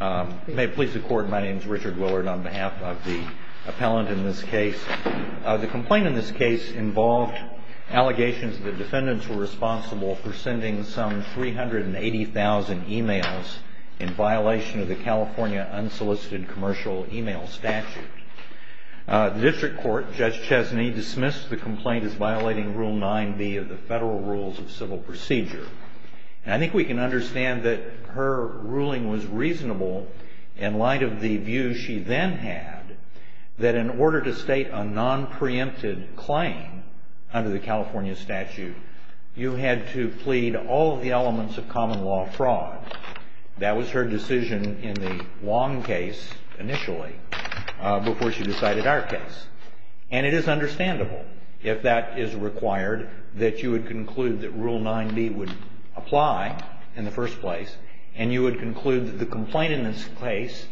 May it please the Court, my name is Richard Willard on behalf of the appellant in this case. The complaint in this case involved allegations that the defendants were responsible for sending some 380,000 e-mails in violation of the California unsolicited commercial e-mail statute. The District Court, Judge Chesney, dismissed the complaint as violating Rule 9b of the Federal Rules of Civil Procedure. And I think we can understand that her ruling was reasonable in light of the view she then had that in order to state a nonpreempted claim under the California statute, you had to plead all of the elements of common law fraud. That was her decision in the Wong case, initially, before she decided our case. And it is understandable, if that is required, that you would conclude that Rule 9b would apply in the first place, and you would conclude that the complaint in this case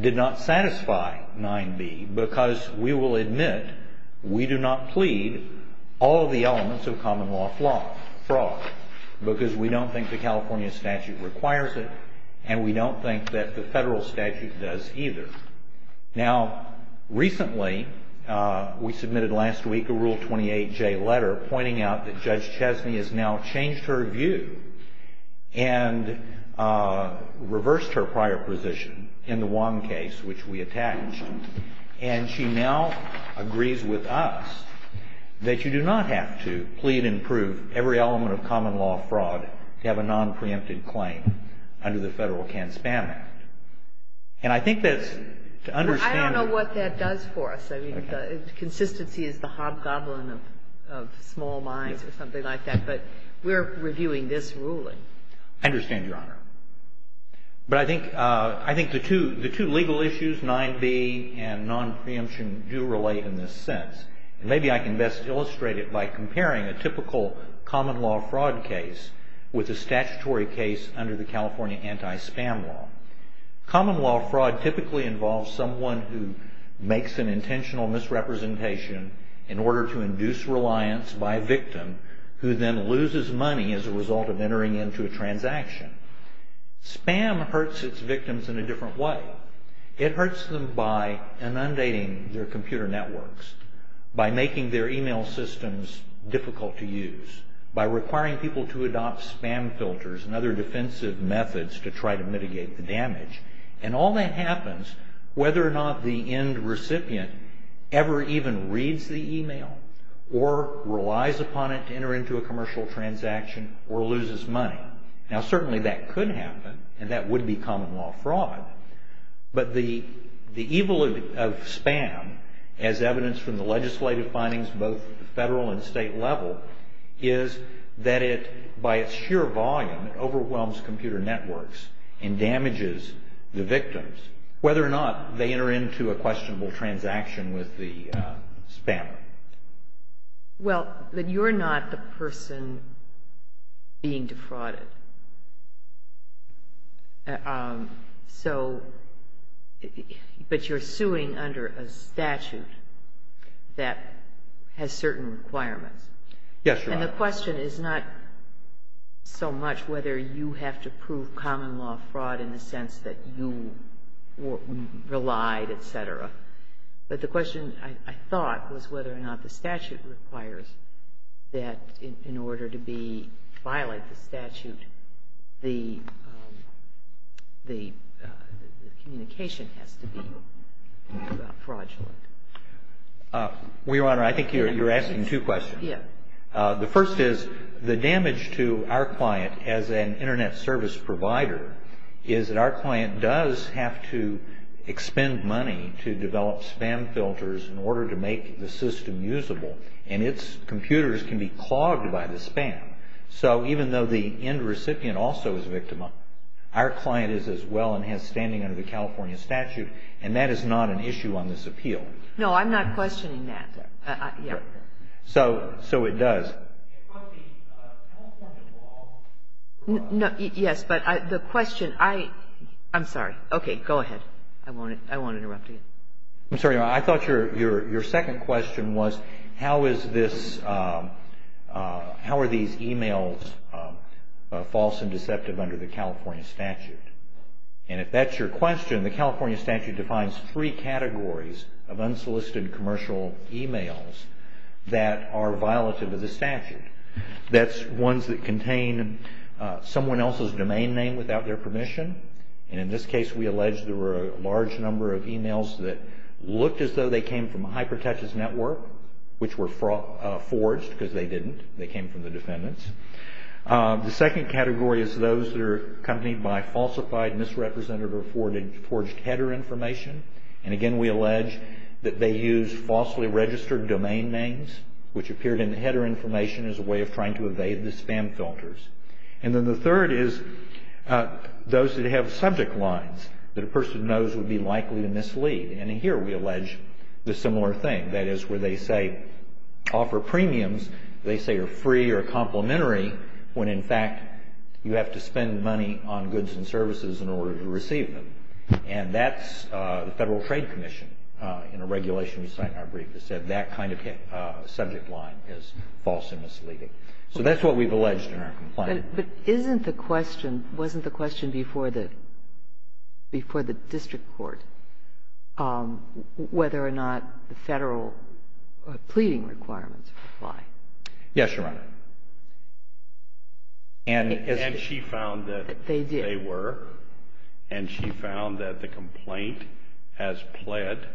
did not satisfy 9b, because we will admit we do not plead all of the elements of common law fraud, because we don't think the California statute requires it, and we don't think that the Federal statute does either. Now, recently, we submitted last week a Rule 28J letter pointing out that Judge Chesney has now changed her view and reversed her prior position in the Wong case, which we attached. And she now agrees with us that you do not have to plead and prove every element of common law fraud to have a nonpreempted claim under the Federal Can-Spam Act. And I think that's to understand your Honor. I don't know what that does for us. I mean, consistency is the hobgoblin of small minds or something like that. But we're reviewing this ruling. I understand, Your Honor. But I think the two legal issues, 9b and nonpreemption, do relate in this sense. And maybe I can best illustrate it by comparing a typical common law fraud case with a statutory case under the California anti-spam law. Common law fraud typically involves someone who makes an intentional misrepresentation in order to induce reliance by a victim, who then loses money as a result of entering into a transaction. Spam hurts its victims in a different way. It hurts them by inundating their computer networks, by making their email systems difficult to use, by requiring people to adopt spam filters and other defensive methods to try to mitigate the damage. And all that happens whether or not the end recipient ever even reads the email or relies upon it to enter into a commercial transaction or loses money. Now, certainly that could happen, and that would be common law fraud. But the evil of spam, as evidenced from the legislative findings both at the federal and state level, is that it, by its sheer volume, overwhelms computer networks and damages the victims, whether or not they enter into a questionable transaction with the spammer. Well, but you're not the person being defrauded. So, but you're suing under a statute that has certain requirements. Yes, Your Honor. And the question is not so much whether you have to prove common law fraud in the sense that you relied, et cetera, but the question, I thought, was whether or not the statute requires that in order to be, to violate the statute, the communication has to be fraudulent. Well, Your Honor, I think you're asking two questions. Yes. The first is the damage to our client as an Internet service provider is that our client does have to expend money to develop spam filters in order to make the system usable, and its computers can be clogged by the spam. So, even though the end recipient also is a victim, our client is as well and has standing under the California statute, and that is not an issue on this appeal. No, I'm not questioning that. Yeah. So, it does. Yes, but the question, I'm sorry. Okay, go ahead. I won't interrupt you. I'm sorry. I thought your second question was how is this, how are these emails false and deceptive under the California statute? And if that's your question, the California statute defines three categories of unsolicited commercial emails that are violative of the statute. That's ones that contain someone else's domain name without their permission, and in this case we allege there were a large number of emails that looked as though they came from HyperTouch's network, which were forged because they didn't. They came from the defendant's. The second category is those that are accompanied by falsified, misrepresented, or forged header information, and again we allege that they used falsely registered domain names, which appeared in the header information as a way of trying to evade the spam filters. And then the third is those that have subject lines that a person knows would be likely to mislead, and here we allege the similar thing. That is where they say, offer premiums, they say are free or complimentary, when in fact you have to spend money on goods and services in order to receive them, and that's the Federal Trade Commission in a regulation we cite in our brief that said that kind of subject line is false and misleading. So that's what we've alleged in our complaint. But isn't the question, wasn't the question before the district court whether or not the Federal pleading requirements apply? Yes, Your Honor. And she found that they were. They did. And she found that the complaint as pled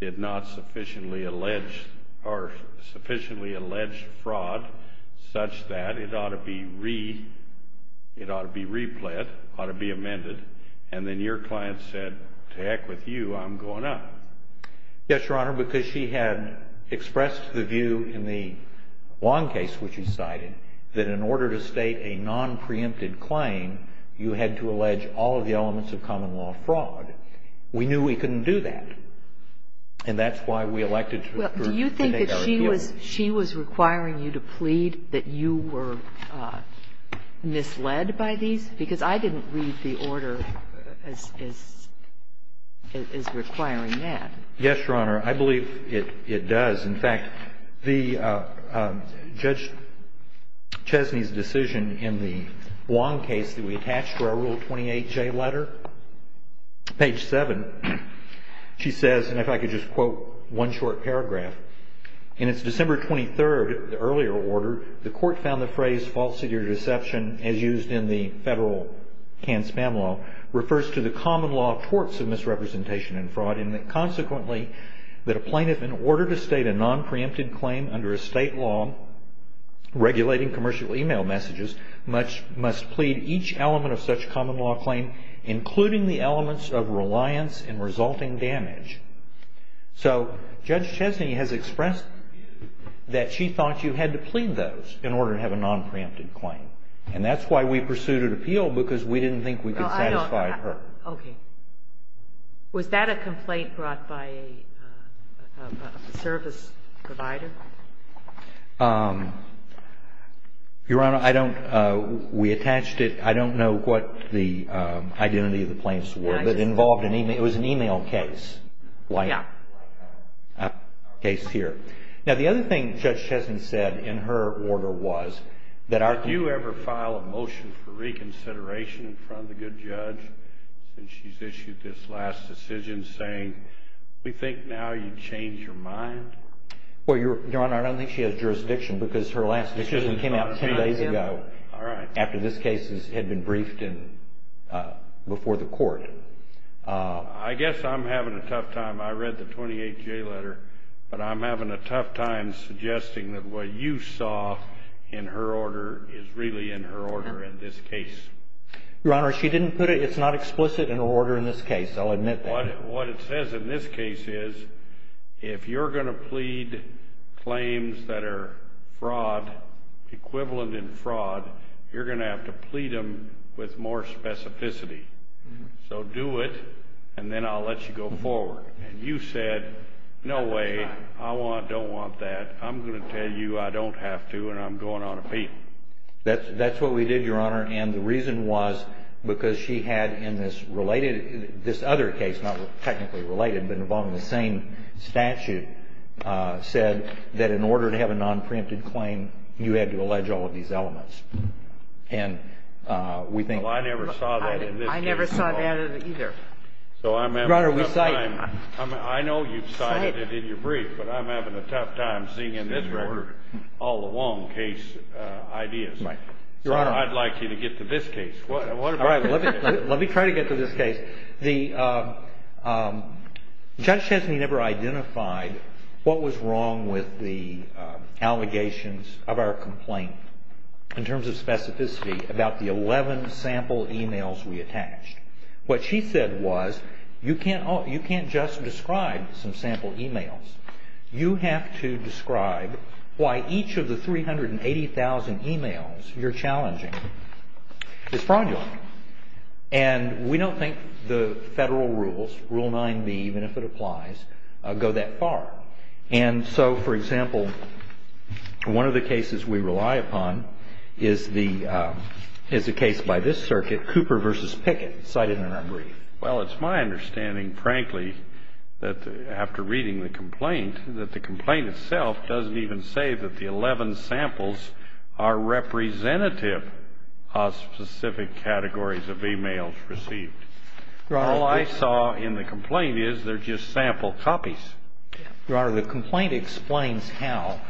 did not sufficiently allege or sufficiently allege fraud such that it ought to be replit, ought to be amended, and then your client said, to heck with you, I'm going up. Yes, Your Honor, because she had expressed the view in the long case which she cited that in order to state a nonpreempted claim, you had to allege all of the elements of common law fraud. We knew we couldn't do that. And that's why we elected her to make our appeal. Well, do you think that she was requiring you to plead that you were misled by these? Because I didn't read the order as requiring that. Yes, Your Honor. I believe it does. In fact, the Judge Chesney's decision in the long case that we attached to our Rule 28J letter, page 7, she said, and if I could just quote one short paragraph, So, Judge Chesney has expressed that she thought you had to plead those in order to have a nonpreempted claim. And that's why we pursued an appeal, because we didn't think we could satisfy her. Okay. Was that a complaint brought by a service provider? Your Honor, I don't, we attached it, I don't know what the identity of the plaintiffs were. But it involved an email, it was an email case, like our case here. Now, the other thing Judge Chesney said in her order was that our Did you ever file a motion for reconsideration in front of the good judge since she's issued this last decision saying, we think now you'd change your mind? Well, Your Honor, I don't think she has jurisdiction because her last decision came out 10 days ago. All right. After this case had been briefed before the court. I guess I'm having a tough time. I read the 28J letter, but I'm having a tough time suggesting that what you saw in her order is really in her order in this case. Your Honor, she didn't put it, it's not explicit in her order in this case. I'll admit that. What it says in this case is, if you're going to plead claims that are fraud, equivalent in fraud, you're going to have to plead them with more specificity. So do it, and then I'll let you go forward. And you said, no way, I don't want that. I'm going to tell you I don't have to, and I'm going on a beat. That's what we did, Your Honor. And the reason was because she had in this related, this other case, not technically related, but involved in the same statute, said that in order to have a nonpreempted claim, you had to allege all of these elements. And we think. Well, I never saw that in this case. I never saw that either. So I'm having a tough time. Your Honor, we cite. I know you've cited it in your brief, but I'm having a tough time seeing in this order all along case ideas. Right. Your Honor. I'd like you to get to this case. All right. Let me try to get to this case. The judge says he never identified what was wrong with the allegations of our complaint in terms of specificity about the 11 sample emails we attached. What she said was, you can't just describe some sample emails. You have to describe why each of the 380,000 emails you're challenging is fraudulent. And we don't think the federal rules, Rule 9b, even if it applies, go that far. And so, for example, one of the cases we rely upon is the case by this circuit, Cooper v. Pickett, cited in our brief. Well, it's my understanding, frankly, that after reading the complaint, that the complaint itself doesn't even say that the 11 samples are representative of specific categories of emails received. Your Honor. All I saw in the complaint is they're just sample copies. Your Honor, the complaint explains how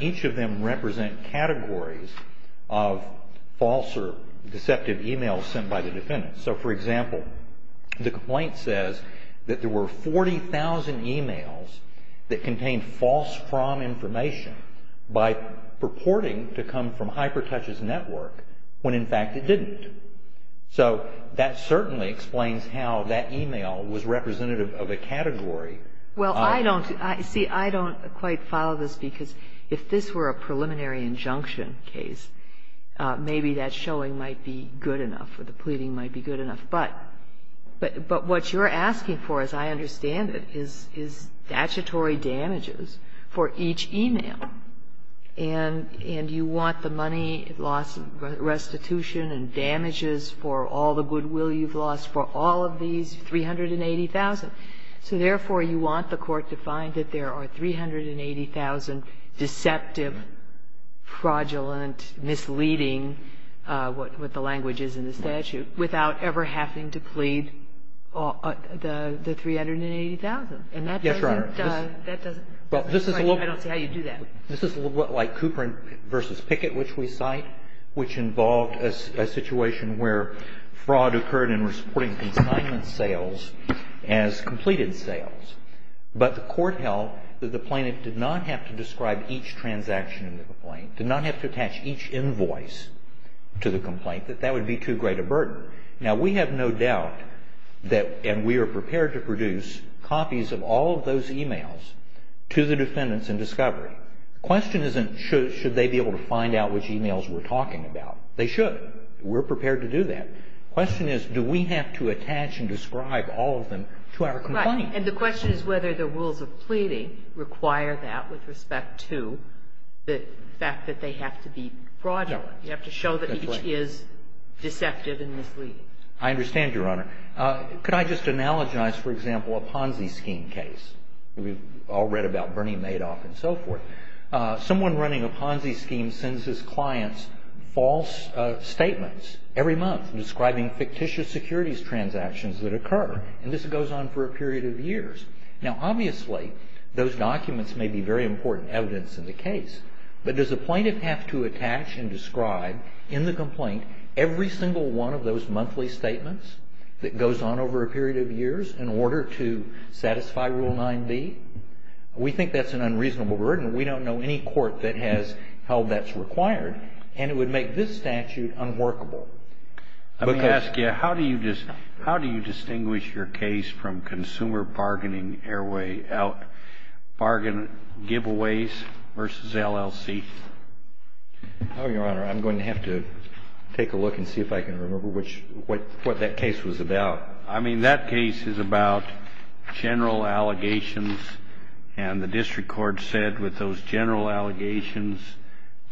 each of them represent categories of false or deceptive emails sent by the defendant. So, for example, the complaint says that there were 40,000 emails that contained false prom information by purporting to come from HyperTouch's network when, in fact, it didn't. So that certainly explains how that email was representative of a category. Well, I don't, see, I don't quite follow this, because if this were a preliminary injunction case, maybe that showing might be good enough or the pleading might be good enough. But what you're asking for, as I understand it, is statutory damages for each email. And you want the money lost, restitution and damages for all the goodwill you've lost for all of these 380,000. So therefore, you want the Court to find that there are 380,000 deceptive, fraudulent, misleading, what the language is in the statute, without ever having to plead the 380,000. And that doesn't do it. Yes, Your Honor. I don't see how you'd do that. This is a little bit like Cooper v. Pickett, which we cite, which involved a situation where fraud occurred in reporting consignment sales as completed sales. But the Court held that the plaintiff did not have to describe each transaction in the complaint, did not have to attach each invoice to the complaint, that that would be too great a burden. Now, we have no doubt that, and we are prepared to produce copies of all of those emails to the defendants in discovery. The question isn't should they be able to find out which emails we're talking about. They should. But we're prepared to do that. The question is, do we have to attach and describe all of them to our complaint? Right. And the question is whether the rules of pleading require that with respect to the fact that they have to be fraudulent. You have to show that each is deceptive and misleading. I understand, Your Honor. Could I just analogize, for example, a Ponzi scheme case? We've all read about Bernie Madoff and so forth. Someone running a Ponzi scheme sends his clients false statements every month describing fictitious securities transactions that occur. And this goes on for a period of years. Now, obviously, those documents may be very important evidence in the case. But does the plaintiff have to attach and describe in the complaint every single one of those monthly statements that goes on over a period of years in order to satisfy Rule 9b? We think that's an unreasonable burden. We don't know any court that has held that's required. And it would make this statute unworkable. Let me ask you, how do you distinguish your case from consumer bargaining airway, bargain giveaways versus LLC? Oh, Your Honor, I'm going to have to take a look and see if I can remember what that case was about. I mean, that case is about general allegations. And the district court said with those general allegations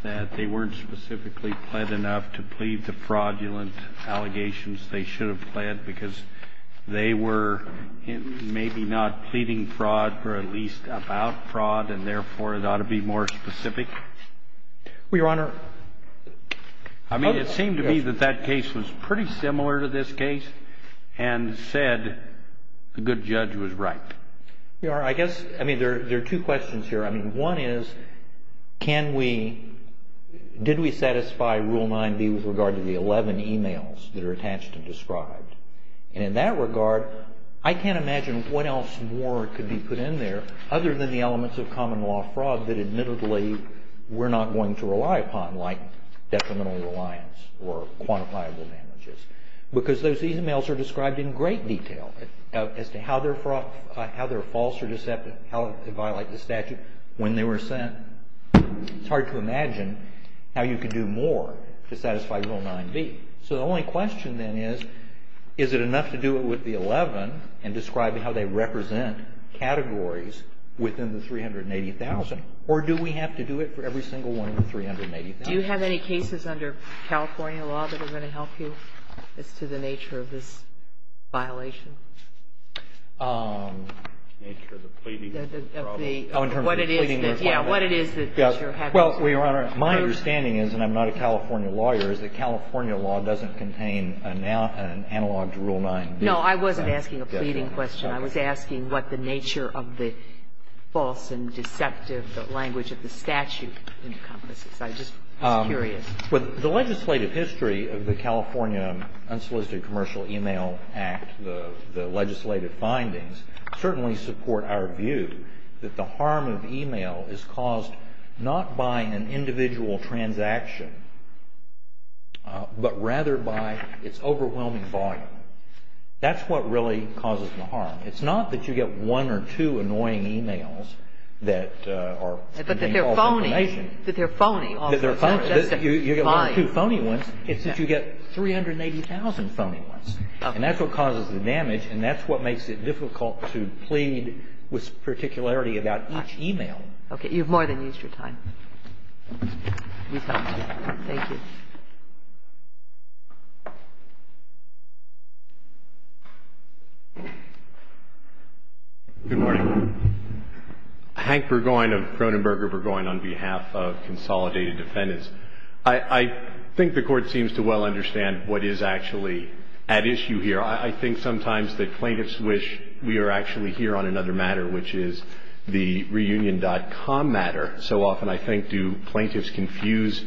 that they weren't specifically pled enough to plead the fraudulent allegations they should have pled because they were maybe not pleading fraud or at least about fraud, and therefore, it ought to be more specific. Well, Your Honor. I mean, it seemed to me that that case was pretty similar to this case. And said the good judge was right. Your Honor, I guess, I mean, there are two questions here. I mean, one is can we, did we satisfy Rule 9b with regard to the 11 emails that are attached and described? And in that regard, I can't imagine what else more could be put in there other than the elements of common law fraud that admittedly we're not going to rely upon like detrimental reliance or quantifiable damages. Because those emails are described in great detail as to how they're false or deceptive, how they violate the statute, when they were sent. It's hard to imagine how you could do more to satisfy Rule 9b. So the only question then is, is it enough to do it with the 11 and describe how they represent categories within the 380,000? Or do we have to do it for every single one of the 380,000? Do you have any cases under California law that are going to help you as to the nature of this violation? The nature of the pleading problem? Oh, in terms of the pleading requirement? Yes. What it is that you're having to prove? Well, Your Honor, my understanding is, and I'm not a California lawyer, is that California law doesn't contain an analog to Rule 9b. No, I wasn't asking a pleading question. I was asking what the nature of the false and deceptive language of the statute encompasses. I just was curious. Well, the legislative history of the California Unsolicited Commercial E-mail Act, the legislative findings, certainly support our view that the harm of e-mail is caused not by an individual transaction, but rather by its overwhelming volume. That's what really causes the harm. It's not that you get one or two annoying e-mails that are painful information. That they're phony. That they're phony. You get one or two phony ones. It's that you get 380,000 phony ones. Okay. And that's what causes the damage, and that's what makes it difficult to plead with particularity about each e-mail. Okay. You've more than used your time. Thank you. Good morning. Hank Burgoyne of Cronenberger Burgoyne on behalf of Consolidated Defendants. I think the Court seems to well understand what is actually at issue here. I think sometimes that plaintiffs wish we were actually here on another matter, which is the reunion.com matter. So often, I think, do plaintiffs confuse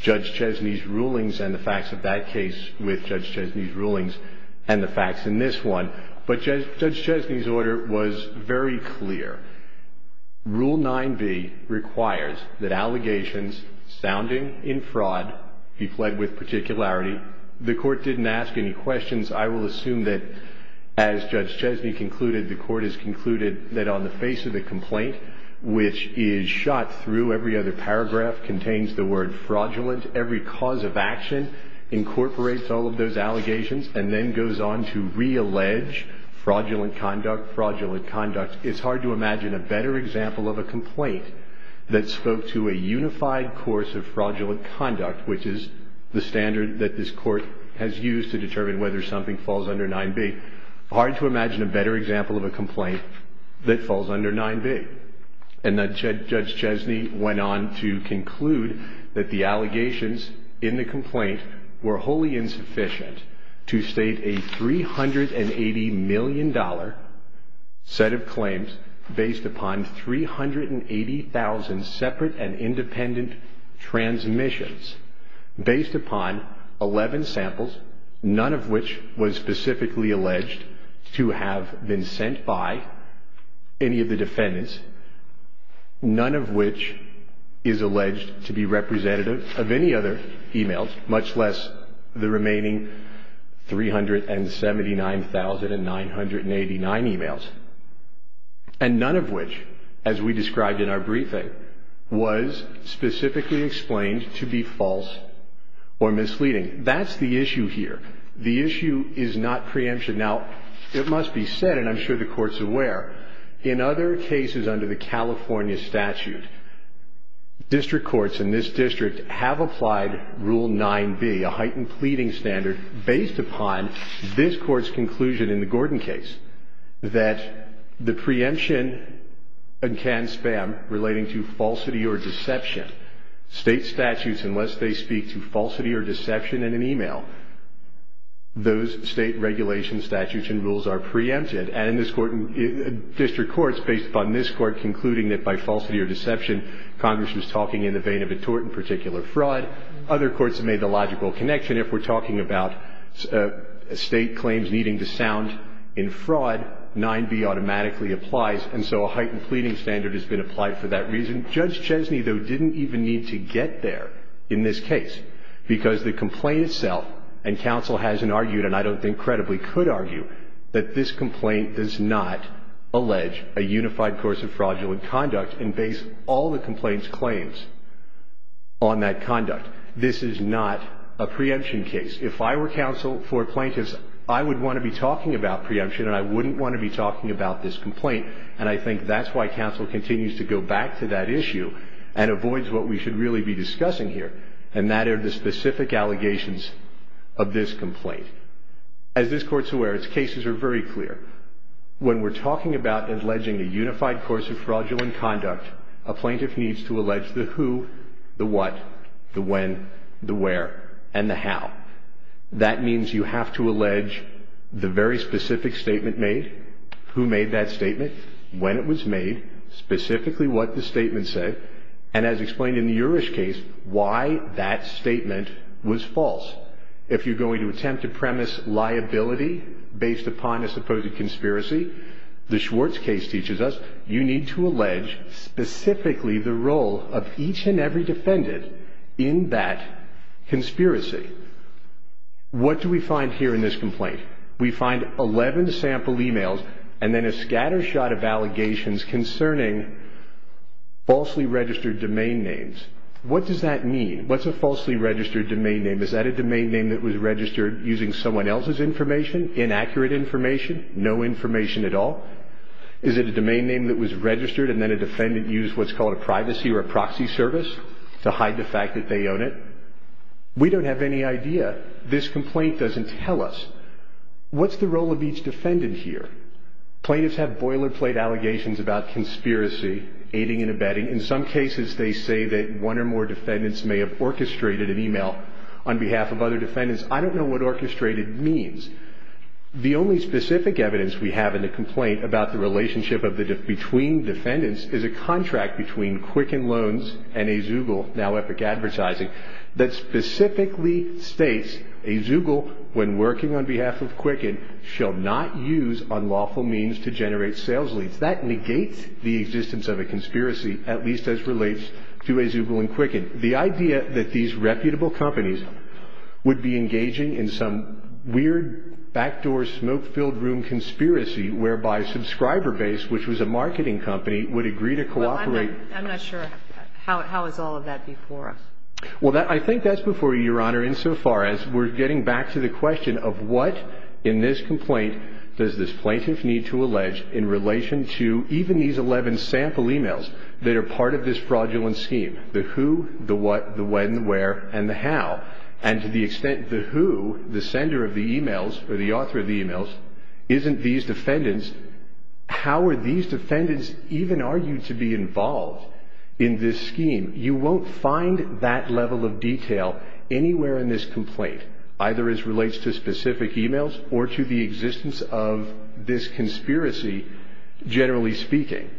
Judge Chesney's rulings and the facts of that case with Judge Chesney's rulings and the facts in this one. But Judge Chesney's order was very clear. Rule 9b requires that allegations sounding in fraud be pled with particularity. The Court didn't ask any questions. I will assume that as Judge Chesney concluded, the Court has concluded that on the face of the complaint, which is shot through every other paragraph, contains the word fraudulent, every cause of action incorporates all of those allegations, and then goes on to reallege fraudulent conduct, fraudulent conduct. It's hard to imagine a better example of a complaint that spoke to a unified course of fraudulent conduct, which is the standard that this Court has used to determine whether something falls under 9b. Hard to imagine a better example of a complaint that falls under 9b. And then Judge Chesney went on to conclude that the allegations in the complaint were wholly insufficient to state a $380 million set of claims based upon 380,000 separate and independent transmissions, based upon 11 samples, none of which was specifically alleged to have been sent by any of the defendants, none of which is alleged to be representative of any other emails, much less the remaining 379,989 emails, and none of which, as we described in our briefing, was specifically explained to be false or misleading. That's the issue here. The issue is not preemption. Now, it must be said, and I'm sure the Court's aware, in other cases under the California statute, district courts in this district have applied Rule 9b, a heightened pleading standard, based upon this Court's conclusion in the Gordon case that the preemption can spam relating to falsity or deception. State statutes, unless they speak to falsity or deception in an email, those state regulation statutes and rules are preempted. And in this court, district courts, based upon this Court concluding that by falsity or deception, Congress was talking in the vein of a tort and particular fraud, other courts have made the logical connection. Even if we're talking about state claims needing to sound in fraud, 9b automatically applies, and so a heightened pleading standard has been applied for that reason. Judge Chesney, though, didn't even need to get there in this case, because the complaint itself, and counsel hasn't argued, and I don't think credibly could argue, that this complaint does not allege a unified course of fraudulent conduct and base all the complaint's claims on that conduct. This is not a preemption case. If I were counsel for plaintiffs, I would want to be talking about preemption, and I wouldn't want to be talking about this complaint, and I think that's why counsel continues to go back to that issue and avoids what we should really be discussing here, and that are the specific allegations of this complaint. As this Court's aware, its cases are very clear. When we're talking about alleging a unified course of fraudulent conduct, a plaintiff needs to allege the who, the what, the when, the where, and the how. That means you have to allege the very specific statement made, who made that statement, when it was made, specifically what the statement said, and as explained in the Urish case, why that statement was false. If you're going to attempt to premise liability based upon a supposed conspiracy, the Schwartz case teaches us you need to allege specifically the role of each and every defendant in that conspiracy. What do we find here in this complaint? We find 11 sample emails and then a scatter shot of allegations concerning falsely registered domain names. What does that mean? What's a falsely registered domain name? Is that a domain name that was registered using someone else's information, inaccurate information, no information at all? Is it a domain name that was registered and then a defendant used what's called a privacy or a proxy service to hide the fact that they own it? We don't have any idea. This complaint doesn't tell us. What's the role of each defendant here? Plaintiffs have boilerplate allegations about conspiracy, aiding and abetting. In some cases they say that one or more defendants may have orchestrated an email on behalf of other defendants. I don't know what orchestrated means. The only specific evidence we have in the complaint about the relationship between defendants is a contract between Quicken Loans and Azugul, now Epic Advertising, that specifically states Azugul, when working on behalf of Quicken, shall not use unlawful means to generate sales leads. That negates the existence of a conspiracy, at least as relates to Azugul and Quicken. The idea that these reputable companies would be engaging in some weird backdoor smoke-filled room conspiracy whereby subscriber base, which was a marketing company, would agree to cooperate. Well, I'm not sure. How is all of that before us? Well, I think that's before you, Your Honor, insofar as we're getting back to the question of what in this complaint does this plaintiff need to allege in relation to even these 11 sample emails that are part of this fraudulent scheme. The who, the what, the when, the where, and the how. And to the extent the who, the sender of the emails or the author of the emails, isn't these defendants, how are these defendants even argued to be involved in this scheme? You won't find that level of detail anywhere in this complaint, either as relates to specific emails or to the existence of this conspiracy, generally speaking.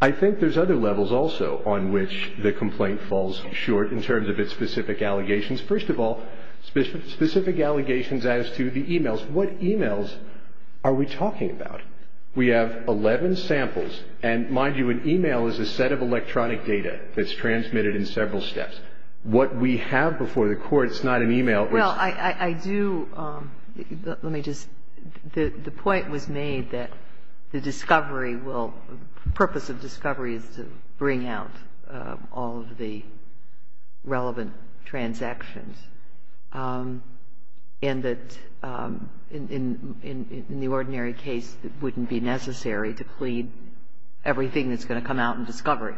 I think there's other levels also on which the complaint falls short in terms of its specific allegations. First of all, specific allegations as to the emails. What emails are we talking about? We have 11 samples, and mind you, an email is a set of electronic data that's transmitted in several steps. What we have before the court is not an email. Well, I do. Let me just. The point was made that the discovery will, the purpose of discovery is to bring out all of the relevant transactions. And that in the ordinary case, it wouldn't be necessary to plead everything that's going to come out in discovery.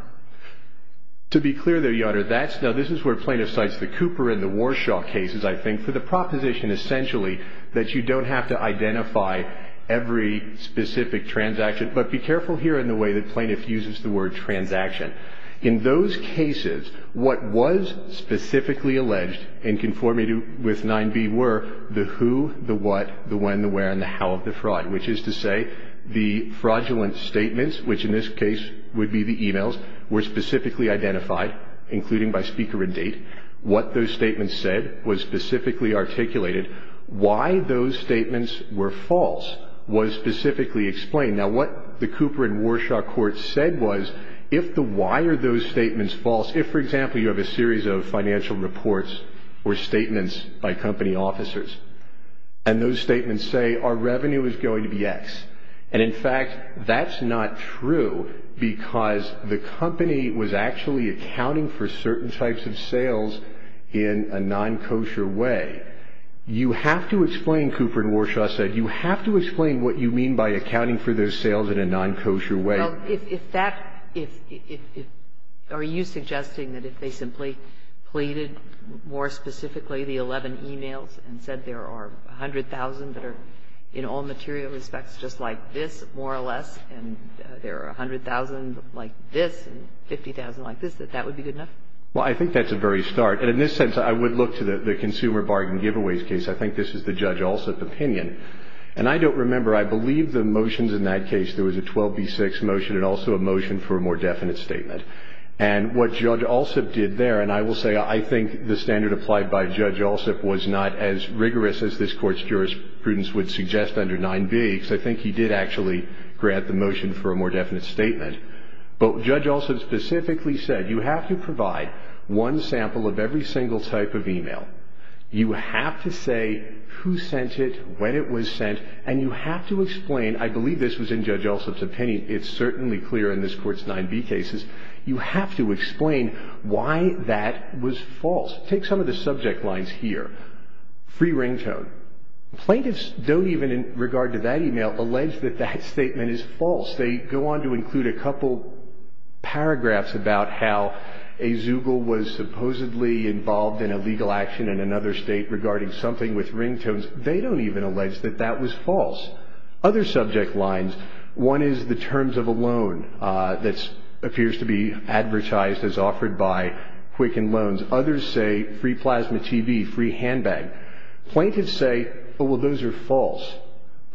To be clear, though, Your Honor, this is where plaintiff cites the Cooper and the Warshaw cases, I think, for the proposition essentially that you don't have to identify every specific transaction. But be careful here in the way that plaintiff uses the word transaction. In those cases, what was specifically alleged in conformity with 9b were the who, the what, the when, the where, and the how of the fraud, which is to say the fraudulent statements, which in this case would be the emails, were specifically identified, including by speaker and date. What those statements said was specifically articulated. Why those statements were false was specifically explained. Now, what the Cooper and Warshaw court said was if the why are those statements false, if, for example, you have a series of financial reports or statements by company officers, and those statements say our revenue is going to be X, and in fact, that's not true because the company was actually accounting for certain types of sales in a non-kosher way, you have to explain, Cooper and Warshaw said, you have to explain what you mean by accounting for those sales in a non-kosher way. Well, if that, if, are you suggesting that if they simply pleaded more specifically the 11 emails and said there are 100,000 that are in all material respects just like this, more or less, and there are 100,000 like this and 50,000 like this, that that would be good enough? Well, I think that's a very stark. And in this sense, I would look to the consumer bargain giveaways case. I think this is the Judge Alsup opinion. And I don't remember, I believe the motions in that case, there was a 12B6 motion and also a motion for a more definite statement. And what Judge Alsup did there, and I will say I think the standard applied by Judge Alsup was not as rigorous as this Court's jurisprudence would suggest under 9B, because I think he did actually grant the motion for a more definite statement. But Judge Alsup specifically said you have to provide one sample of every single type of email. You have to say who sent it, when it was sent, and you have to explain, I believe this was in Judge Alsup's opinion, it's certainly clear in this Court's 9B cases, you have to explain why that was false. Take some of the subject lines here. Free ringtone. Plaintiffs don't even, in regard to that email, allege that that statement is false. They go on to include a couple paragraphs about how a Zugal was supposedly involved in illegal action in another state regarding something with ringtones. They don't even allege that that was false. Other subject lines, one is the terms of a loan that appears to be advertised as offered by Quicken Loans. Others say free plasma TV, free handbag. Plaintiffs say, oh, well, those are false.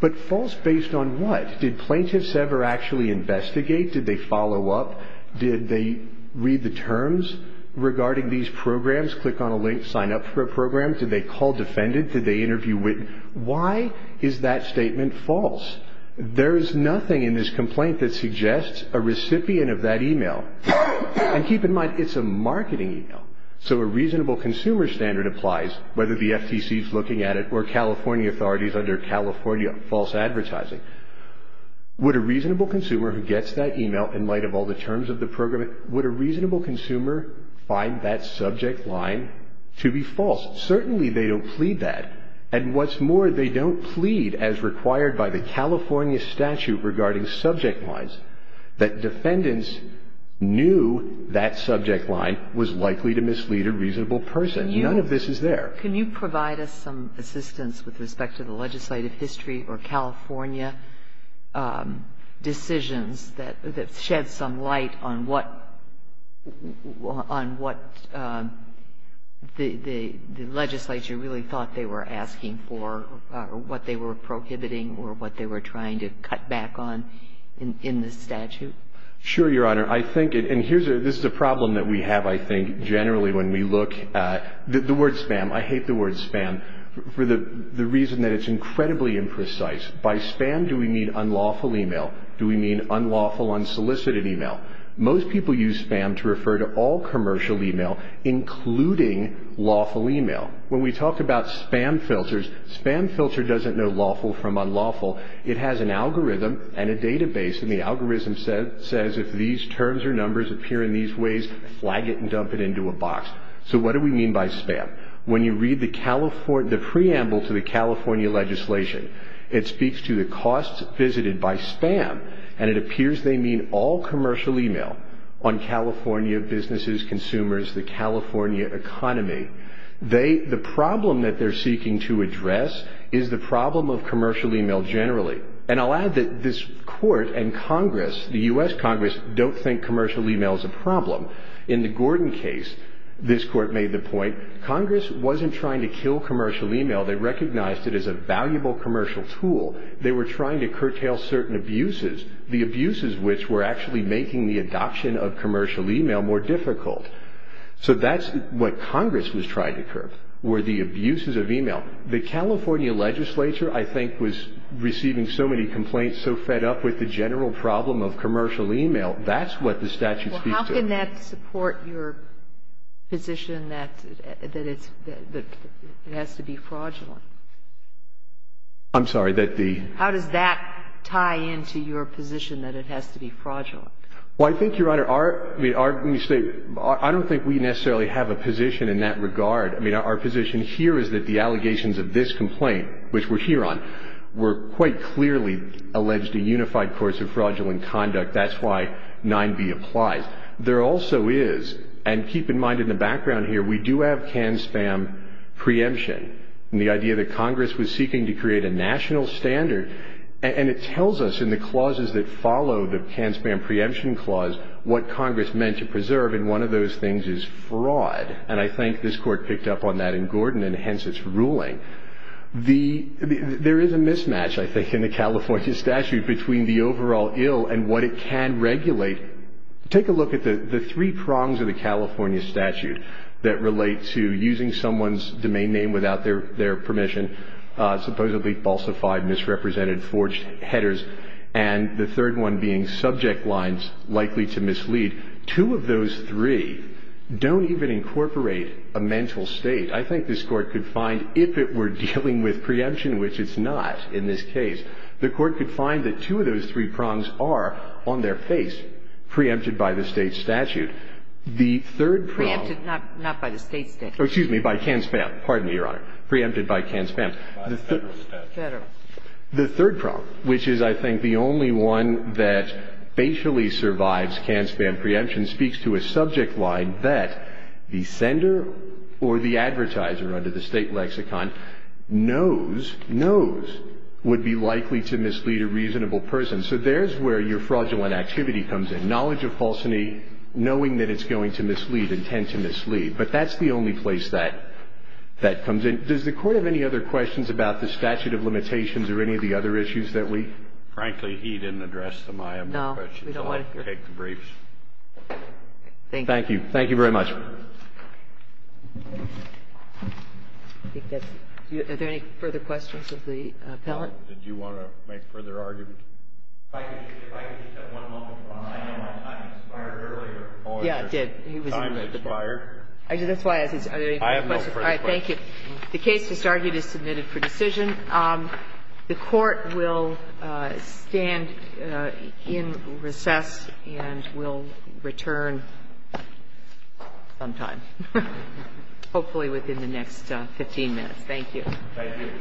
But false based on what? Did plaintiffs ever actually investigate? Did they follow up? Did they read the terms regarding these programs, click on a link, sign up for a program? Did they call defendants? Did they interview witnesses? Why is that statement false? There is nothing in this complaint that suggests a recipient of that email. And keep in mind, it's a marketing email, so a reasonable consumer standard applies, whether the FTC is looking at it or California authorities under California false advertising. Would a reasonable consumer who gets that email in light of all the terms of the program, would a reasonable consumer find that subject line to be false? Certainly they don't plead that. And what's more, they don't plead as required by the California statute regarding subject lines that defendants knew that subject line was likely to mislead a reasonable person. None of this is there. Sotomayor, can you provide us some assistance with respect to the legislative history or California decisions that shed some light on what the legislature really thought they were asking for or what they were prohibiting or what they were trying to cut back on in this statute? Sure, Your Honor. I think, and this is a problem that we have, I think, generally when we look at the word spam, I hate the word spam for the reason that it's incredibly imprecise. By spam, do we mean unlawful email? Do we mean unlawful, unsolicited email? Most people use spam to refer to all commercial email, including lawful email. When we talk about spam filters, spam filter doesn't know lawful from unlawful. It has an algorithm and a database, and the algorithm says if these terms or numbers appear in these ways, flag it and dump it into a box. So what do we mean by spam? When you read the preamble to the California legislation, it speaks to the costs visited by spam, and it appears they mean all commercial email on California businesses, consumers, the California economy. The problem that they're seeking to address is the problem of commercial email generally, and I'll add that this court and Congress, the U.S. Congress, don't think commercial email is a problem. In the Gordon case, this court made the point Congress wasn't trying to kill commercial email. They recognized it as a valuable commercial tool. They were trying to curtail certain abuses, the abuses which were actually making the adoption of commercial email more difficult. So that's what Congress was trying to curb, were the abuses of email. The California legislature, I think, was receiving so many complaints, so fed up with the general problem of commercial email. That's what the statute speaks to. How can that support your position that it's – that it has to be fraudulent? I'm sorry, that the – How does that tie into your position that it has to be fraudulent? Well, I think, Your Honor, our – I mean, our – let me say, I don't think we necessarily have a position in that regard. I mean, our position here is that the allegations of this complaint, which we're here on, were quite clearly alleged a unified course of fraudulent conduct. That's why 9b applies. But there also is – and keep in mind in the background here, we do have can-spam preemption. And the idea that Congress was seeking to create a national standard – and it tells us in the clauses that follow the can-spam preemption clause what Congress meant to preserve, and one of those things is fraud. And I think this Court picked up on that in Gordon, and hence its ruling. The – there is a mismatch, I think, in the California statute between the overall ill and what it can regulate. Take a look at the three prongs of the California statute that relate to using someone's domain name without their permission, supposedly falsified, misrepresented, forged headers, and the third one being subject lines likely to mislead. Two of those three don't even incorporate a mental state. I think this Court could find if it were dealing with preemption, which it's not in this case, the Court could find that two of those three prongs are on their face, preempted by the State statute. The third prong – Preempted not by the State statute. Excuse me, by can-spam. Pardon me, Your Honor. Preempted by can-spam. By the Federal statute. Federal. The third prong, which is, I think, the only one that basically survives can-spam preemption, speaks to a subject line that the sender or the advertiser under the State lexicon knows, knows would be likely to mislead a reasonable person. So there's where your fraudulent activity comes in. Knowledge of falsity, knowing that it's going to mislead, intent to mislead. But that's the only place that that comes in. Does the Court have any other questions about the statute of limitations or any of the other issues that we? Frankly, he didn't address them. I have no questions. No. We don't want to hear. I'll take the briefs. Thank you. Thank you. Thank you very much. Are there any further questions of the appellant? Did you want to make further arguments? If I could just have one moment. I know my time expired earlier. Yeah, it did. Time expired. That's why I said, are there any further questions? I have no further questions. All right. Thank you. The case that's argued is submitted for decision. The Court will stand in recess and will return sometime, hopefully within the next 15 minutes. Thank you. Thank you. Thank you. Thank you. Thank you.